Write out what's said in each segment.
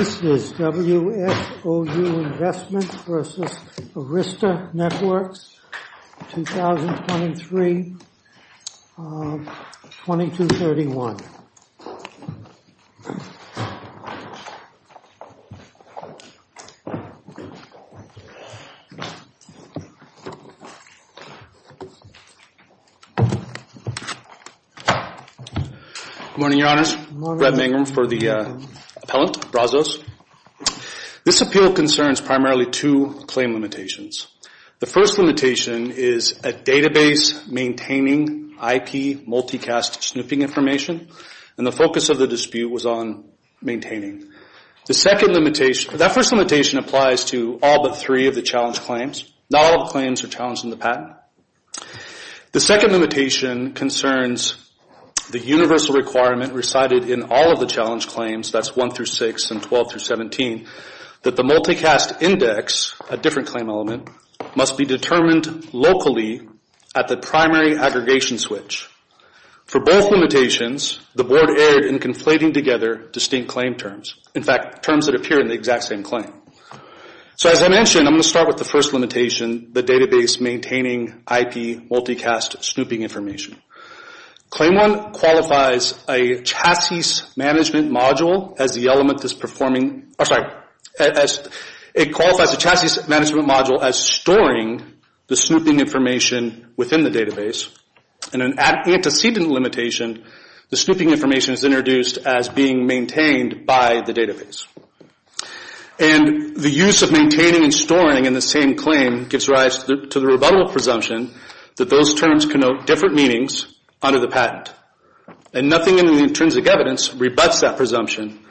This is WSOU Investments v. Arista Networks, 2023-2231. Good morning, Your Honors. Brett Mangrum for the appellant, Brazos. This appeal concerns primarily two claim limitations. The first limitation is a database maintaining IP multicast snooping information, and the focus of the dispute was on maintaining. The second limitation, that first limitation applies to all but three of the challenge claims. Not all the claims are challenged in the patent. The second limitation concerns the universal requirement recited in all of the challenge claim must be determined locally at the primary aggregation switch. For both limitations, the board erred in conflating together distinct claim terms, in fact, terms that appear in the exact same claim. So as I mentioned, I'm going to start with the first limitation, the database maintaining IP multicast snooping information. Claim 1 qualifies a chassis management module as storing the snooping information within the database. In an antecedent limitation, the snooping information is introduced as being maintained by the database. The use of maintaining and storing in the same claim gives rise to the rebuttal presumption that those terms connote different meanings under the patent, and nothing in the intrinsic evidence rebuts that presumption.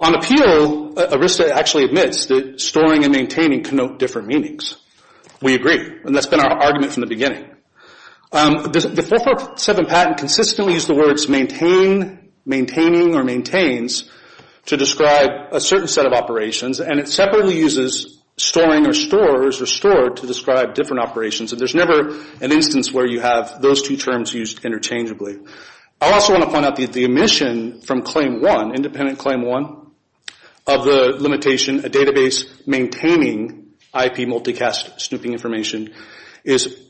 On appeal, ERISTA actually admits that storing and maintaining connote different meanings. We agree, and that's been our argument from the beginning. The 447 patent consistently used the words maintain, maintaining, or maintains to describe a certain set of operations, and it separately uses storing or stores or stored to describe different operations. So there's never an instance where you have those two terms used interchangeably. I also want to point out that the omission from claim 1, independent claim 1, of the limitation, a database maintaining IP multicast snooping information is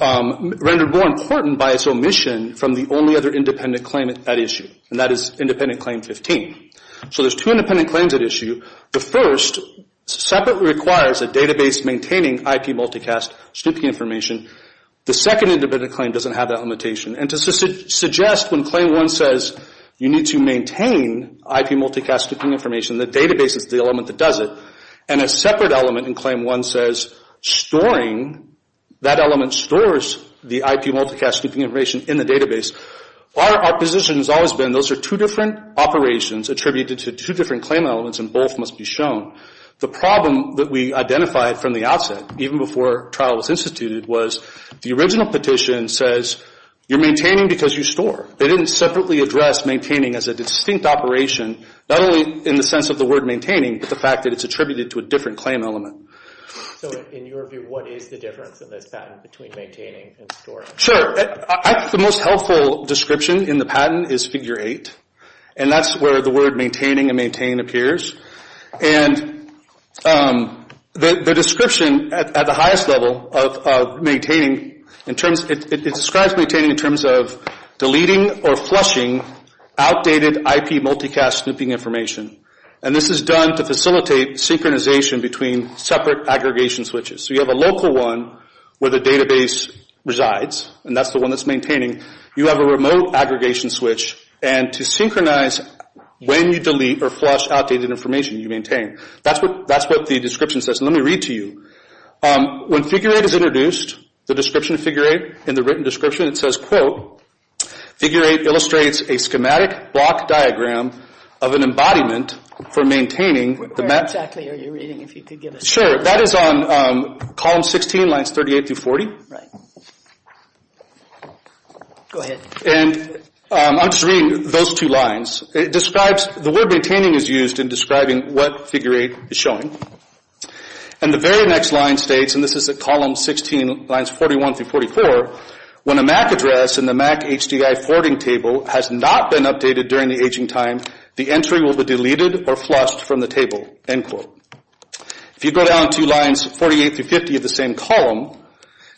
rendered more important by its omission from the only other independent claim at issue, and that is independent claim 15. So there's two independent claims at issue. The first separately requires a database maintaining IP multicast snooping information. The second independent claim doesn't have that limitation, and to suggest when claim 1 says you need to maintain IP multicast snooping information, the database is the element that does it, and a separate element in claim 1 says storing, that element stores the IP multicast snooping information in the database, our position has always been those are two different operations attributed to two different claim elements, and both must be shown. The problem that we identified from the outset, even before trial was instituted, was the original petition says you're maintaining because you store. They didn't separately address maintaining as a distinct operation, not only in the sense of the word maintaining, but the fact that it's attributed to a different claim element. So in your view, what is the difference in this patent between maintaining and storing? Sure, I think the most helpful description in the patent is figure 8, and that's where the word maintaining and maintain appears. And the description at the highest level of maintaining, it describes maintaining in terms of deleting or flushing outdated IP multicast snooping information, and this is done to facilitate synchronization between separate aggregation switches. So you have a local one where the database resides, and that's the one that's maintaining. You have a remote aggregation switch, and to synchronize when you delete or flush outdated information you maintain. That's what the description says. Let me read to you. When figure 8 is introduced, the description of figure 8, in the written description it says, quote, figure 8 illustrates a schematic block diagram of an embodiment for maintaining the... Where exactly are you reading, if you could give us... Sure, that is on column 16, lines 38 through 40. Right. Go ahead. And I'm just reading those two lines. It describes, the word maintaining is used in describing what figure 8 is showing. And the very next line states, and this is at column 16, lines 41 through 44, when a MAC address in the MAC HDI forwarding table has not been updated during the aging time, the entry will be deleted or flushed from the table, end quote. If you go down to lines 48 through 50 of the same column,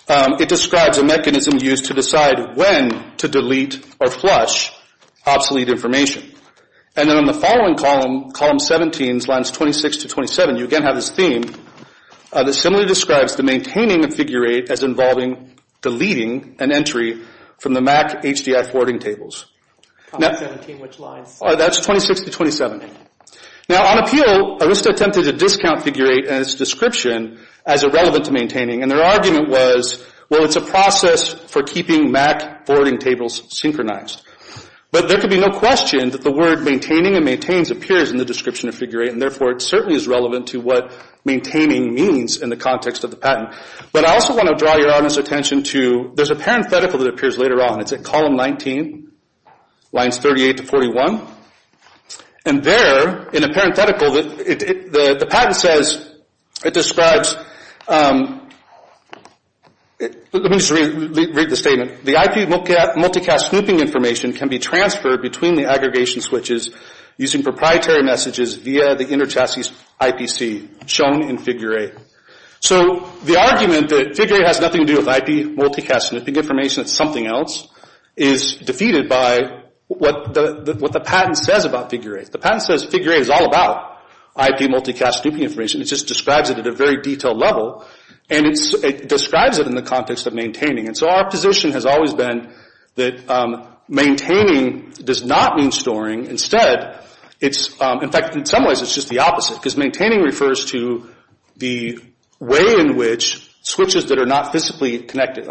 it describes a mechanism used to decide when to delete or flush obsolete information. And then on the following column, column 17, lines 26 to 27, you again have this theme that similarly describes the maintaining of figure 8 as involving deleting an entry from the MAC HDI forwarding tables. Column 17, which lines? That's 26 to 27. Now, on appeal, Arista attempted to discount figure 8 and its description as irrelevant to maintaining, and their argument was, well, it's a process for keeping MAC forwarding tables synchronized. But there could be no question that the word maintaining and maintains appears in the description of figure 8, and therefore it certainly is relevant to what maintaining means in the context of the patent. But I also want to draw your audience's attention to, there's a parenthetical that appears later on. It's at column 19, lines 38 to 41. And there, in a parenthetical, the patent says, it describes, let me just read the statement. The IP multicast snooping information can be transferred between the aggregation switches using proprietary messages via the interchassis IPC, shown in figure 8. So the argument that figure 8 has nothing to do with IP multicast snooping information and it's something else is defeated by what the patent says about figure 8. The patent says figure 8 is all about IP multicast snooping information. It just describes it at a very detailed level, and it describes it in the context of maintaining. And so our position has always been that maintaining does not mean storing. Instead, it's, in fact, in some ways it's just the opposite, because maintaining refers to the way in which switches that are not physically connected,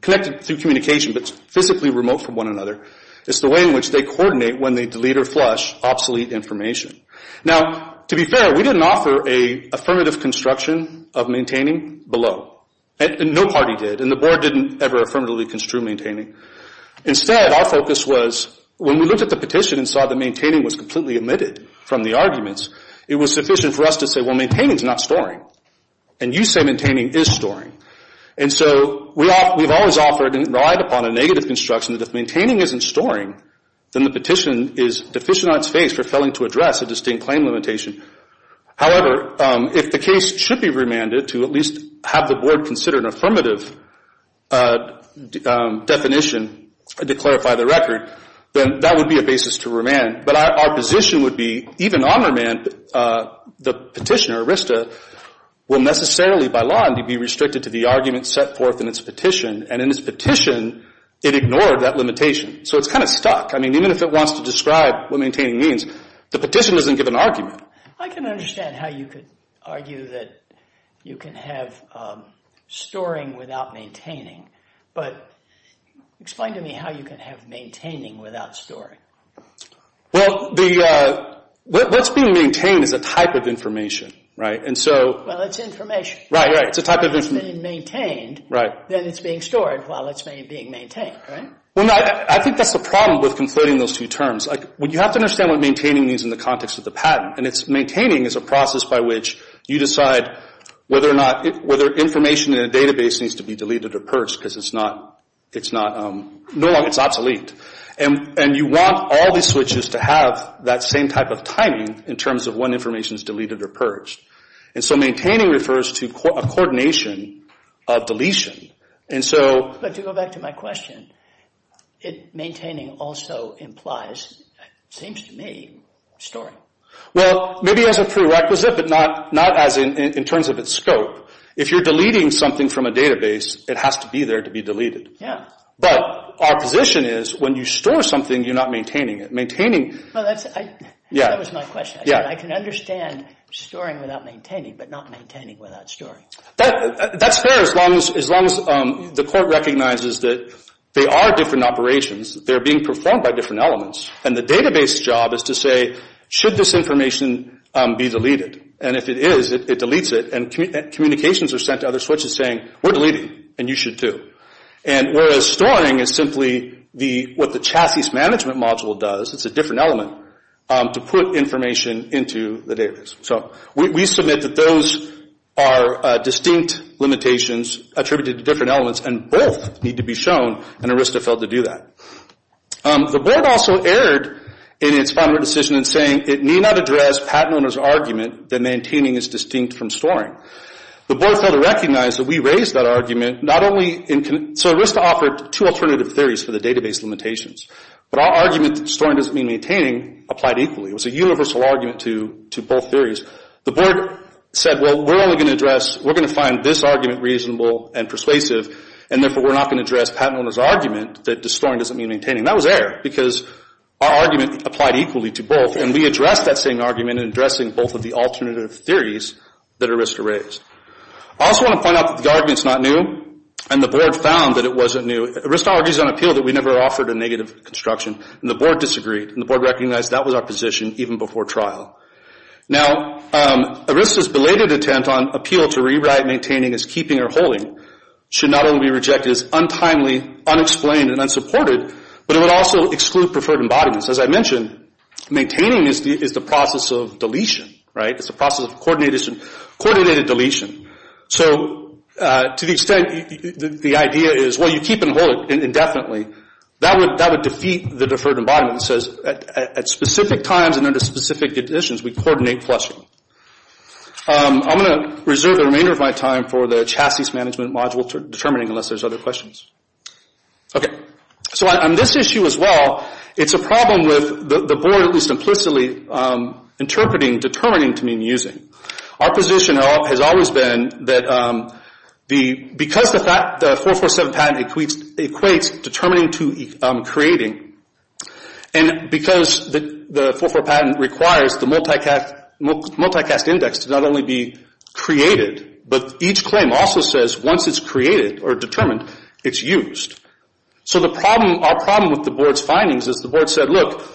connected through communication but physically remote from one another, it's the way in which they coordinate when they delete or flush obsolete information. Now, to be fair, we didn't offer an affirmative construction of maintaining below, and no party did, and the board didn't ever affirmatively construe maintaining. Instead, our focus was, when we looked at the petition and saw that maintaining was completely omitted from the arguments, it was sufficient for us to say, well, maintaining is not storing, and you say maintaining is storing. And so we've always offered and relied upon a negative construction that if maintaining isn't storing, then the petition is deficient on its face for failing to address a distinct claim limitation. However, if the case should be remanded to at least have the board consider an affirmative definition to clarify the record, then that would be a basis to remand. But our position would be, even on remand, the petitioner, RISTA, will necessarily, by law, be restricted to the argument set forth in its petition, and in its petition, it ignored that limitation. So it's kind of stuck. I mean, even if it wants to describe what maintaining means, the petition doesn't give an argument. I can understand how you could argue that you can have storing without maintaining, but explain to me how you can have maintaining without storing. Well, what's being maintained is a type of information, right? And so... Well, it's information. Right, right. It's a type of information. While it's being maintained, then it's being stored, while it's being maintained, right? Well, I think that's the problem with conflating those two terms. You have to understand what maintaining means in the context of the patent, and it's maintaining is a process by which you decide whether information in a database needs to be deleted or purged, because it's not... No longer, it's obsolete. And you want all these switches to have that same type of timing in terms of when information is deleted or purged. And so maintaining refers to a coordination of deletion. But to go back to my question, maintaining also implies, it seems to me, storing. Well, maybe as a prerequisite, but not as in terms of its scope. If you're deleting something from a database, it has to be there to be deleted. But our position is, when you store something, you're not maintaining it. Maintaining... That was my question. I can understand storing without maintaining, but not maintaining without storing. That's fair as long as the court recognizes that they are different operations, they're being performed by different elements, and the database's job is to say, should this information be deleted? And if it is, it deletes it, and communications are sent to other switches saying, we're deleting, and you should too. And whereas storing is simply what the chassis management module does, it's a different element, to put information into the database. So we submit that those are distinct limitations attributed to different elements, and both need to be shown, and ARISTA failed to do that. The board also erred in its final decision in saying, it need not address patent owner's argument that maintaining is distinct from storing. The board failed to recognize that we raised that argument, not only in... So ARISTA offered two alternative theories for the database limitations, but our argument that storing doesn't mean maintaining applied equally. It was a universal argument to both theories. The board said, well, we're only going to address, we're going to find this argument reasonable and persuasive, and therefore we're not going to address patent owner's argument that storing doesn't mean maintaining. That was error, because our argument applied equally to both, and we addressed that same argument in addressing both of the alternative theories that ARISTA raised. I also want to point out that the argument's not new, and the board found that it wasn't new. ARISTA argues on appeal that we never offered a negative construction, and the board disagreed, and the board recognized that was our position even before trial. Now ARISTA's belated attempt on appeal to rewrite maintaining as keeping or holding should not only be rejected as untimely, unexplained, and unsupported, but it would also exclude preferred embodiments. As I mentioned, maintaining is the process of deletion, right? It's a process of coordinated deletion. So to the extent the idea is, well, you keep and hold it indefinitely, that would defeat the deferred embodiment that says at specific times and under specific conditions, we coordinate flushing. I'm going to reserve the remainder of my time for the chassis management module determining unless there's other questions. So on this issue as well, it's a problem with the board, at least implicitly, interpreting determining to mean using. Our position has always been that because the 447 patent equates determining to creating, and because the 447 patent requires the multicast index to not only be created, but each claim also says once it's created or determined, it's used. So our problem with the board's findings is the board said, look,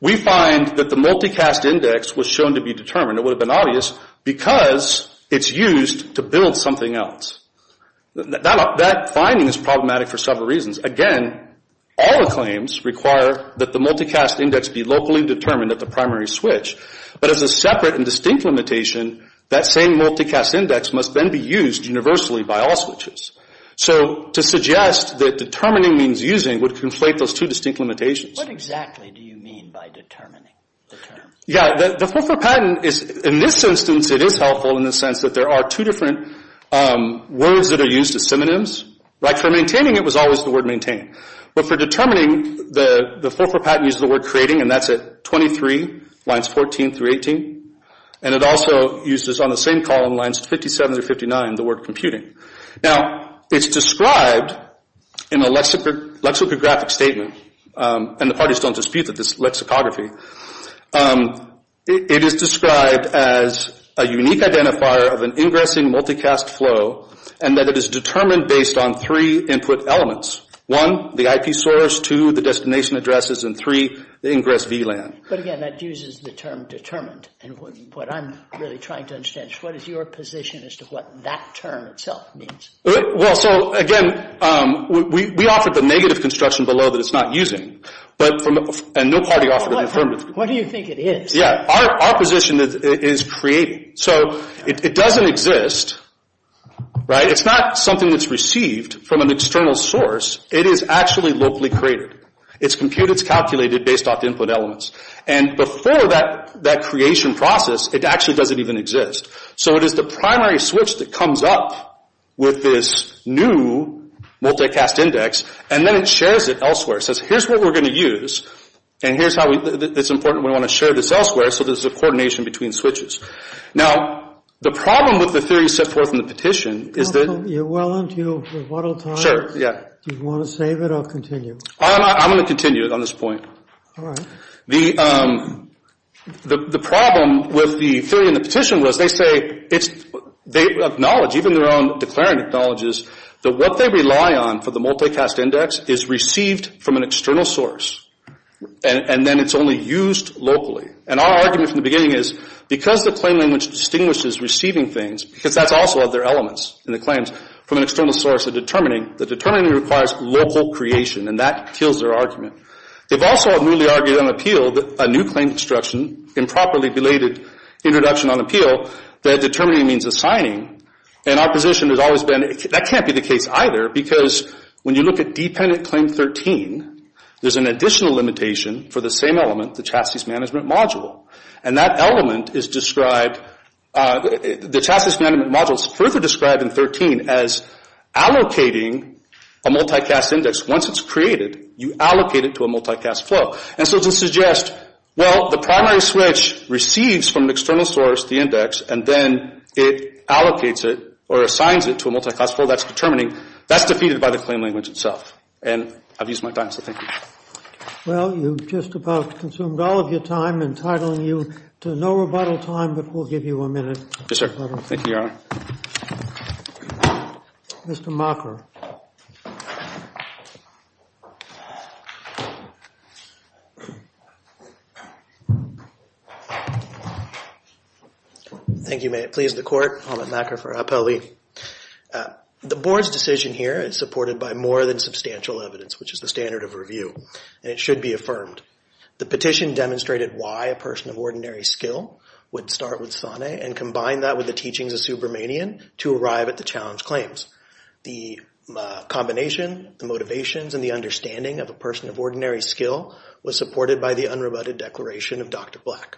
we find that the multicast index was shown to be determined, it would have been obvious, because it's used to build something else. That finding is problematic for several reasons. Again, all the claims require that the multicast index be locally determined at the primary switch, but as a separate and distinct limitation, that same multicast index must then be used universally by all switches. So to suggest that determining means using would conflate those two distinct limitations. What exactly do you mean by determining the term? Yeah, the 447 patent is, in this instance, it is helpful in the sense that there are two different words that are used as synonyms. Like for maintaining, it was always the word maintain, but for determining, the 447 patent used the word creating, and that's at 23 lines 14 through 18, and it also uses on the same column lines 57 through 59 the word computing. Now, it's described in a lexicographic statement, and the parties don't dispute that it's lexicography. It is described as a unique identifier of an ingressing multicast flow, and that it is determined based on three input elements. One, the IP source, two, the destination addresses, and three, the ingress VLAN. But again, that uses the term determined, and what I'm really trying to understand is what is your position as to what that term itself means? Well, so again, we offered the negative construction below that it's not using, and no party offered an affirmative construction. What do you think it is? Yeah, our position is creating. So it doesn't exist, right? It's not something that's received from an external source. It is actually locally created. It's computed, it's calculated based off input elements, and before that creation process, it actually doesn't even exist. So it is the primary switch that comes up with this new multicast index, and then it shares it elsewhere. It says, here's what we're going to use, and here's how it's important we want to share this elsewhere, so there's a coordination between switches. Now, the problem with the theory set forth in the petition is that... You're well into your rebuttal time. Sure, yeah. Do you want to save it or continue? I'm going to continue it on this point. All right. The problem with the theory in the petition was they say it's, they acknowledge, even their own declarant acknowledges that what they rely on for the multicast index is received from an external source, and then it's only used locally, and our argument from the beginning is, because the claim language distinguishes receiving things, because that's also of their elements in the claims, from an external source of determining, the determining requires local creation, and that kills their argument. They've also newly argued on appeal that a new claim construction, improperly belated introduction on appeal, that determining means assigning, and our position has always been, that can't be the case either, because when you look at dependent claim 13, there's an additional limitation for the same element, the chassis management module, and that element is described, the chassis management module is further described in 13 as allocating a multicast index. Once it's created, you allocate it to a multicast flow. And so to suggest, well, the primary switch receives from an external source, the index, and then it allocates it or assigns it to a multicast flow, that's determining, that's defeated by the claim language itself. And I've used my time, so thank you. Well, you've just about consumed all of your time, entitling you to no rebuttal time, but we'll give you a minute. Yes, sir. Thank you, Your Honor. Mr. Mocker. Thank you, may it please the Court. Helmut Mocker for Appellee. The Board's decision here is supported by more than substantial evidence, which is the it should be affirmed. The petition demonstrated why a person of ordinary skill would start with SANE and combine that with the teachings of Subramanian to arrive at the challenge claims. The combination, the motivations, and the understanding of a person of ordinary skill was supported by the unrebutted declaration of Dr. Black.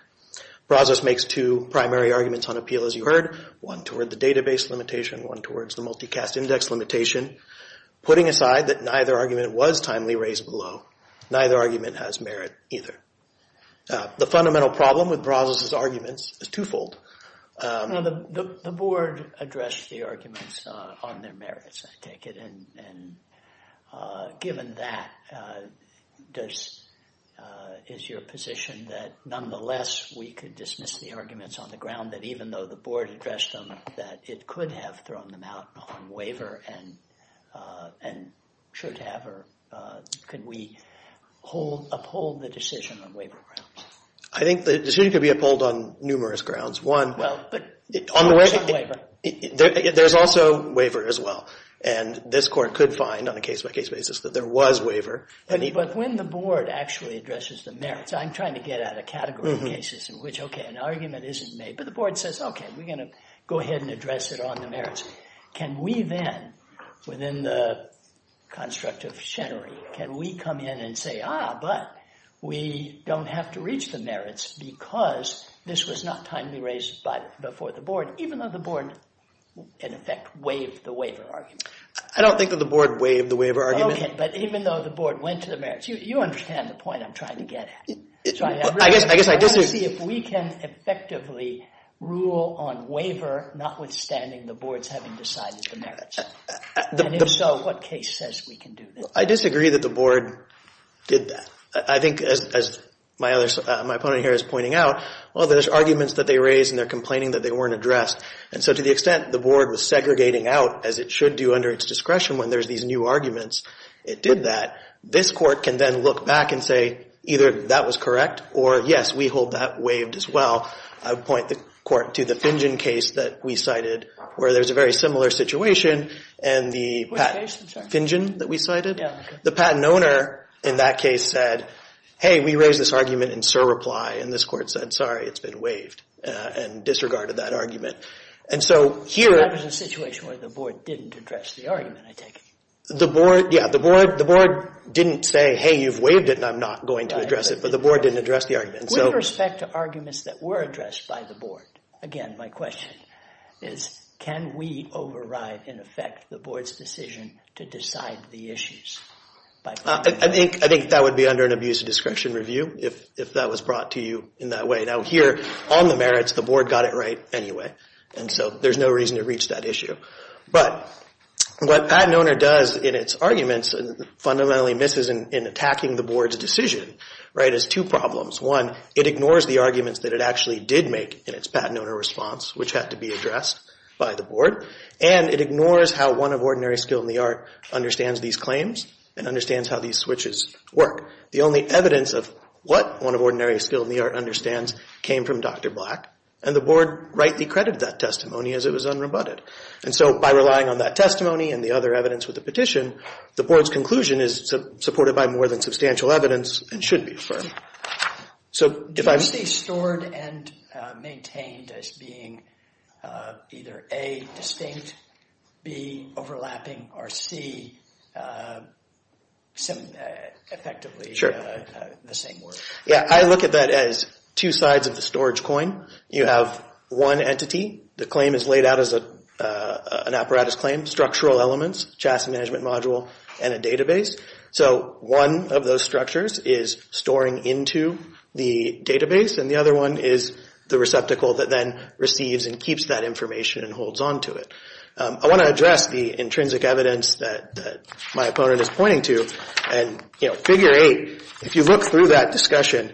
Process makes two primary arguments on appeal, as you heard, one toward the database limitation, one towards the multicast index limitation, putting aside that neither argument was timely raised below. Neither argument has merit either. The fundamental problem with Brazos' arguments is twofold. Now, the Board addressed the arguments on their merits, I take it. And given that, does, is your position that nonetheless we could dismiss the arguments on the ground that even though the Board addressed them, that it could have thrown them out on waiver and, and should have, or could we hold, uphold the decision on waiver grounds? I think the decision could be uphold on numerous grounds. One, there's also waiver as well. And this Court could find on a case-by-case basis that there was waiver. But when the Board actually addresses the merits, I'm trying to get at a category of cases in which, okay, an argument isn't made, but the Board says, okay, we're going to go ahead and address it on the merits. Can we then, within the construct of chenery, can we come in and say, ah, but we don't have to reach the merits because this was not timely raised by, before the Board, even though the Board, in effect, waived the waiver argument? I don't think that the Board waived the waiver argument. Okay, but even though the Board went to the merits, you, you understand the point I'm trying to get at. I guess, I guess I disagree. If we can effectively rule on waiver, notwithstanding the Board's having decided the merits, and if so, what case says we can do this? I disagree that the Board did that. I think, as my other, my opponent here is pointing out, well, there's arguments that they raised and they're complaining that they weren't addressed. And so, to the extent the Board was segregating out, as it should do under its discretion when there's these new arguments, it did that. This Court can then look back and say, either that was correct, or yes, we hold that waived as well. I would point the Court to the Fingen case that we cited, where there's a very similar situation, and the patent, Fingen that we cited? Yeah. The patent owner in that case said, hey, we raised this argument in surreply, and this Court said, sorry, it's been waived, and disregarded that argument. And so, here— That was a situation where the Board didn't address the argument, I take it. The Board, yeah, the Board didn't say, hey, you've waived it, and I'm not going to address it, but the Board didn't address the argument. With respect to arguments that were addressed by the Board, again, my question is, can we override, in effect, the Board's decision to decide the issues? I think that would be under an abuse of discretion review, if that was brought to you in that way. Now, here, on the merits, the Board got it right anyway, and so there's no reason to reach that issue. But what a patent owner does in its arguments, and fundamentally misses in attacking the Board's decision, right, is two problems. One, it ignores the arguments that it actually did make in its patent owner response, which had to be addressed by the Board, and it ignores how one of ordinary skill in the art understands these claims and understands how these switches work. The only evidence of what one of ordinary skill in the art understands came from Dr. Black, and the Board rightly credited that testimony as it was unrebutted. And so, by relying on that testimony and the other evidence with the petition, the Board's conclusion is supported by more than substantial evidence and should be affirmed. So, if I'm... Do you see stored and maintained as being either A, distinct, B, overlapping, or C, effectively the same word? Yeah, I look at that as two sides of the storage coin. You have one entity, the claim is laid out as an apparatus claim, structural elements, chassis management module, and a database. So, one of those structures is storing into the database, and the other one is the receptacle that then receives and keeps that information and holds on to it. I want to address the intrinsic evidence that my opponent is pointing to, and, you know, if you look through that discussion,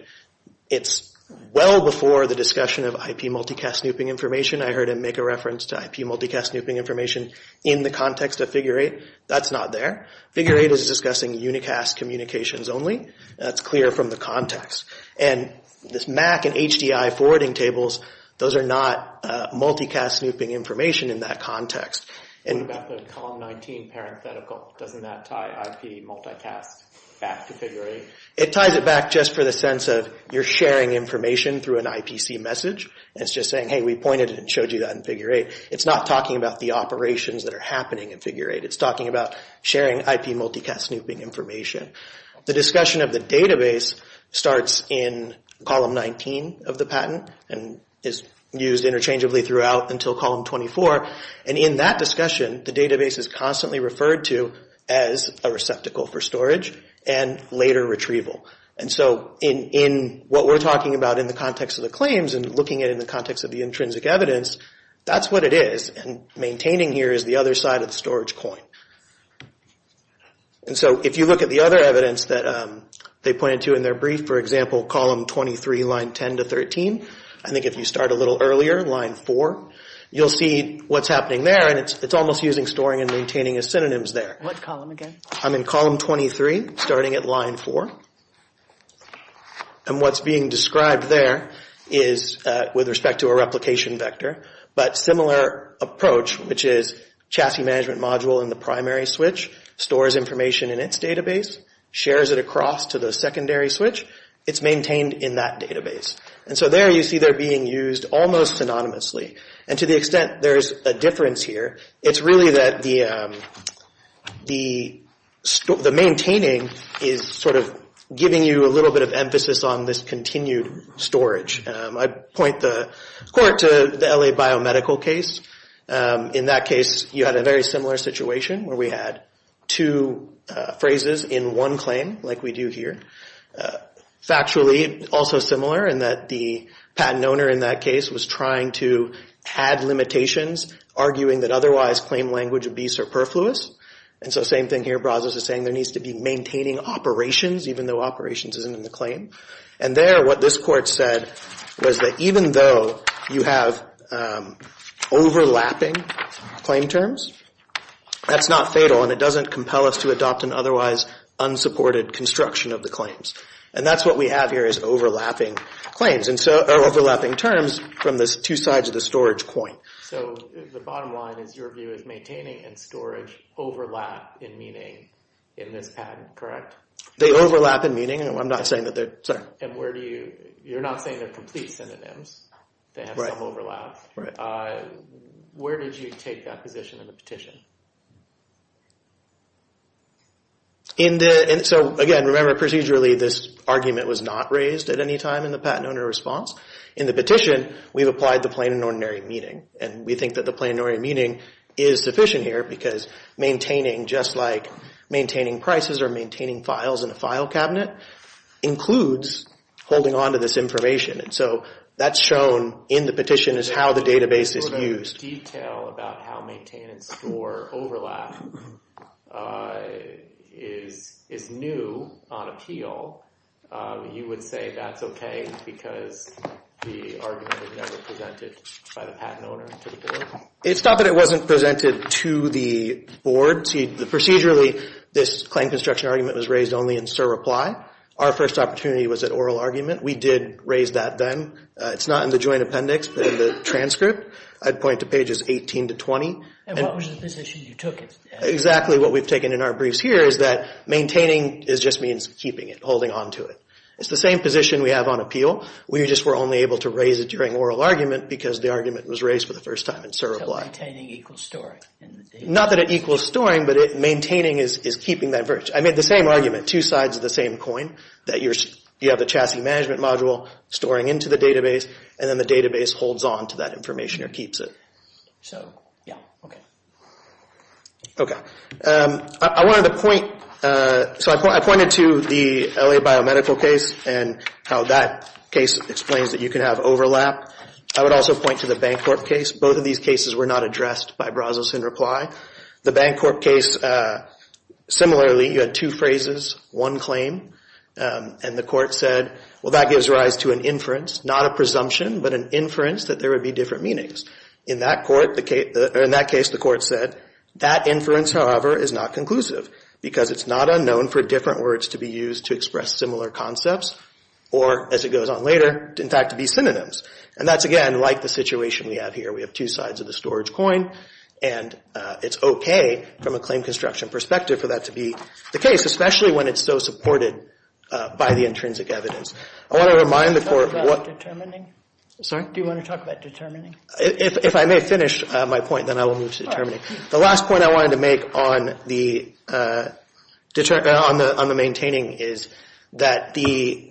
it's well before the discussion of IP multicast snooping information. I heard him make a reference to IP multicast snooping information in the context of Figure 8. That's not there. Figure 8 is discussing unicast communications only. That's clear from the context. And this MAC and HDI forwarding tables, those are not multicast snooping information in that context. What about the column 19 parenthetical? Doesn't that tie IP multicast back to Figure 8? It ties it back just for the sense of you're sharing information through an IPC message. It's just saying, hey, we pointed and showed you that in Figure 8. It's not talking about the operations that are happening in Figure 8. It's talking about sharing IP multicast snooping information. The discussion of the database starts in column 19 of the patent and is used interchangeably throughout until column 24. And in that discussion, the database is constantly referred to as a receptacle for storage and later retrieval. And so in what we're talking about in the context of the claims and looking at it in the context of the intrinsic evidence, that's what it is. And maintaining here is the other side of the storage coin. And so if you look at the other evidence that they pointed to in their brief, for example, column 23, line 10 to 13, I think if you start a little earlier, line 4, you'll see what's happening there. And it's almost using storing and maintaining as synonyms there. What column again? I'm in column 23, starting at line 4. And what's being described there is with respect to a replication vector. But similar approach, which is chassis management module in the primary switch, stores information in its database, shares it across to the secondary switch. It's maintained in that database. And so there you see they're being used almost synonymously. And to the extent there's a difference here, it's really that the maintaining is sort of giving you a little bit of emphasis on this continued storage. I point the court to the LA Biomedical case. In that case, you had a very similar situation where we had two phrases in one claim like we do here. Factually, also similar in that the patent owner in that case was trying to add limitations arguing that otherwise claim language would be superfluous. And so same thing here. Brazos is saying there needs to be maintaining operations even though operations isn't in the claim. And there, what this court said was that even though you have overlapping claim terms, that's not fatal. And it doesn't compel us to adopt an otherwise unsupported construction of the claims. And that's what we have here is overlapping claims, overlapping terms from the two sides of the storage coin. So the bottom line is your view is maintaining and storage overlap in meaning in this patent, correct? They overlap in meaning. I'm not saying that they're, sorry. And where do you, you're not saying they're complete synonyms. They have some overlap. Where did you take that position in the petition? In the, and so again, remember procedurally this argument was not raised at any time in the patent owner response. In the petition, we've applied the plain and ordinary meaning. And we think that the plain and ordinary meaning is sufficient here because maintaining just like maintaining prices or maintaining files in a file cabinet includes holding onto this information. And so that's shown in the petition is how the database is used. Detail about how maintenance or overlap is new on appeal, you would say that's okay because the argument was never presented by the patent owner to the board? It's not that it wasn't presented to the board. Procedurally, this claim construction argument was raised only in Sir reply. Our first opportunity was at oral argument. We did raise that then. It's not in the joint appendix, but in the transcript. I'd point to pages 18 to 20. And what was the position you took it? Exactly what we've taken in our briefs here is that maintaining just means keeping it, holding onto it. It's the same position we have on appeal. We just were only able to raise it during oral argument because the argument was raised for the first time in Sir reply. So maintaining equals storing? Not that it equals storing, but maintaining is keeping that. I made the same argument, two sides of the same coin, that you have the chassis management module storing into the database, and then the database holds on to that information or keeps it. So, yeah, okay. Okay, I wanted to point, so I pointed to the LA Biomedical case and how that case explains that you can have overlap. I would also point to the Bancorp case. Both of these cases were not addressed by Brazos in reply. The Bancorp case, similarly, you had two phrases, one claim, and the court said, well, that gives rise to an inference, not a presumption, but an inference that there would be different meanings. In that case, the court said, that inference, however, is not conclusive because it's not unknown for different words to be used to express similar concepts or, as it goes on later, in fact, to be synonyms. And that's, again, like the situation we have here. We have two sides of the storage coin, and it's okay from a claim construction perspective for that to be the case, especially when it's so supported by the intrinsic evidence. Do you want to talk about determining? If I may finish my point, then I will move to determining. The last point I wanted to make on the maintaining is that the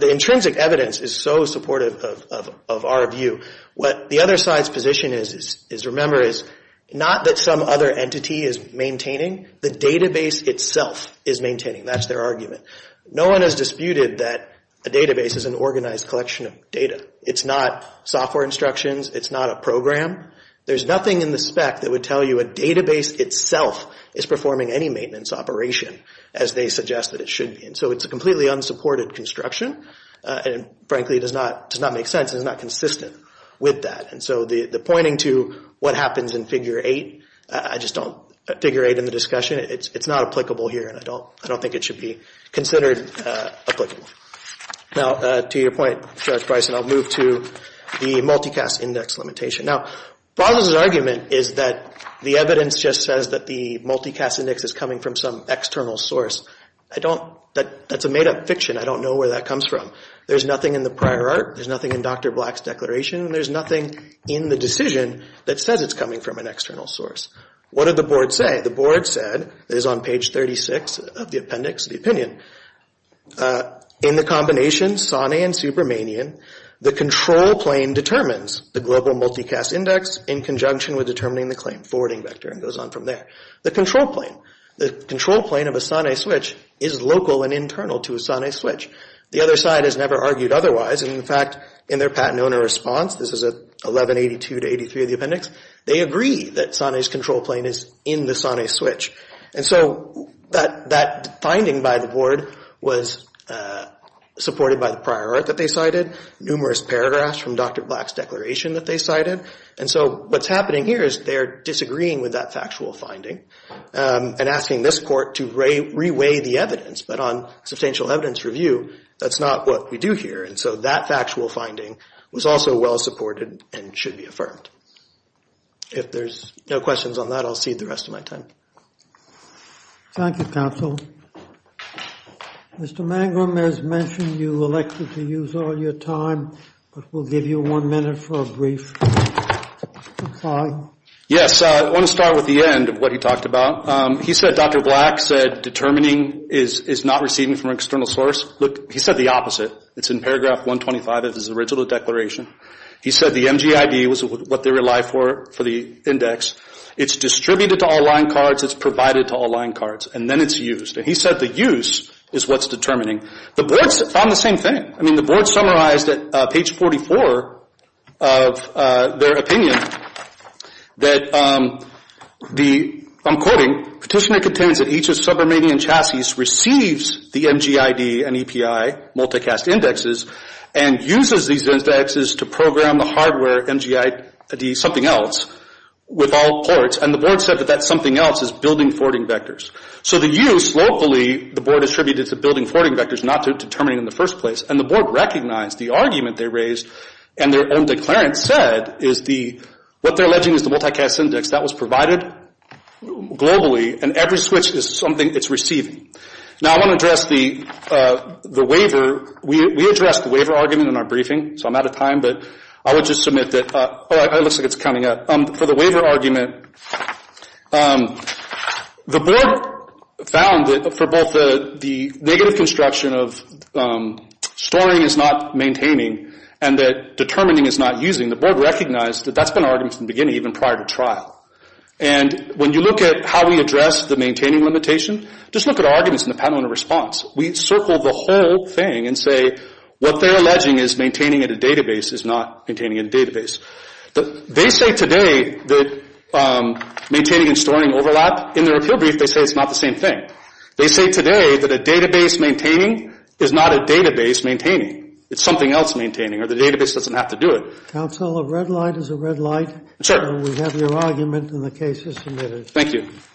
intrinsic evidence is so supportive of our view. What the other side's position is, remember, is not that some other entity is maintaining. The database itself is maintaining. That's their argument. No one has disputed that a database is an organized collection of data. It's not software instructions. It's not a program. There's nothing in the spec that would tell you a database itself is performing any maintenance operation, as they suggest that it should be. And so it's a completely unsupported construction. And frankly, it does not make sense. It's not consistent with that. And so the pointing to what happens in Figure 8, I just don't—Figure 8 in the discussion, it's not applicable here. I don't think it should be considered applicable. Now, to your point, Judge Bryson, I'll move to the multicast index limitation. Now, Brazos' argument is that the evidence just says that the multicast index is coming from some external source. I don't—that's a made-up fiction. I don't know where that comes from. There's nothing in the prior art. There's nothing in Dr. Black's declaration. And there's nothing in the decision that says it's coming from an external source. What did the board say? The board said—it is on page 36 of the appendix, the opinion—in the combination SANE and supermanian, the control plane determines the global multicast index in conjunction with determining the claim forwarding vector and goes on from there. The control plane, the control plane of a SANE switch is local and internal to a SANE switch. The other side has never argued otherwise. And in fact, in their patent owner response—this is at 1182 to 83 of the appendix—they agree that SANE's control plane is in the SANE switch. And so that finding by the board was supported by the prior art that they cited, numerous paragraphs from Dr. Black's declaration that they cited. And so what's happening here is they're disagreeing with that factual finding and asking this court to reweigh the evidence. But on substantial evidence review, that's not what we do here. And so that factual finding was also well supported and should be affirmed. If there's no questions on that, I'll cede the rest of my time. Thank you, counsel. Mr. Mangrum, as mentioned, you elected to use all your time, but we'll give you one minute for a brief reply. Yes, I want to start with the end of what he talked about. He said Dr. Black said determining is not receiving from an external source. Look, he said the opposite. It's in paragraph 125 of his original declaration. He said the MGID was what they relied for for the index. It's distributed to all line cards. It's provided to all line cards. And then it's used. And he said the use is what's determining. The board found the same thing. I mean, the board summarized at page 44 of their opinion that the, I'm quoting, petitioner contains that each of sub-Irmanian chassis receives the MGID and EPI multicast indexes and uses these indexes to program the hardware MGID something else with all ports. And the board said that that something else is building forwarding vectors. So the use locally, the board attributed to building forwarding vectors, not to determining in the first place. And the board recognized the argument they raised and their own declarant said is the, what they're alleging is the multicast index that was provided globally. And every switch is something it's receiving. Now, I want to address the waiver. We addressed the waiver argument in our briefing. So I'm out of time. But I would just submit that, oh, it looks like it's coming up. For the waiver argument, the board found that for both the negative construction of storing is not maintaining and that determining is not using, the board recognized that that's been an argument from the beginning, even prior to trial. And when you look at how we address the maintaining limitation, just look at arguments in the patent owner response. We circled the whole thing and say what they're alleging is maintaining at a database is not maintaining a database. But they say today that maintaining and storing overlap in their appeal brief, they say it's not the same thing. They say today that a database maintaining is not a database maintaining. It's something else maintaining or the database doesn't have to do it. Counsel, a red light is a red light. Sure. We have your argument and the case is submitted. Thank you.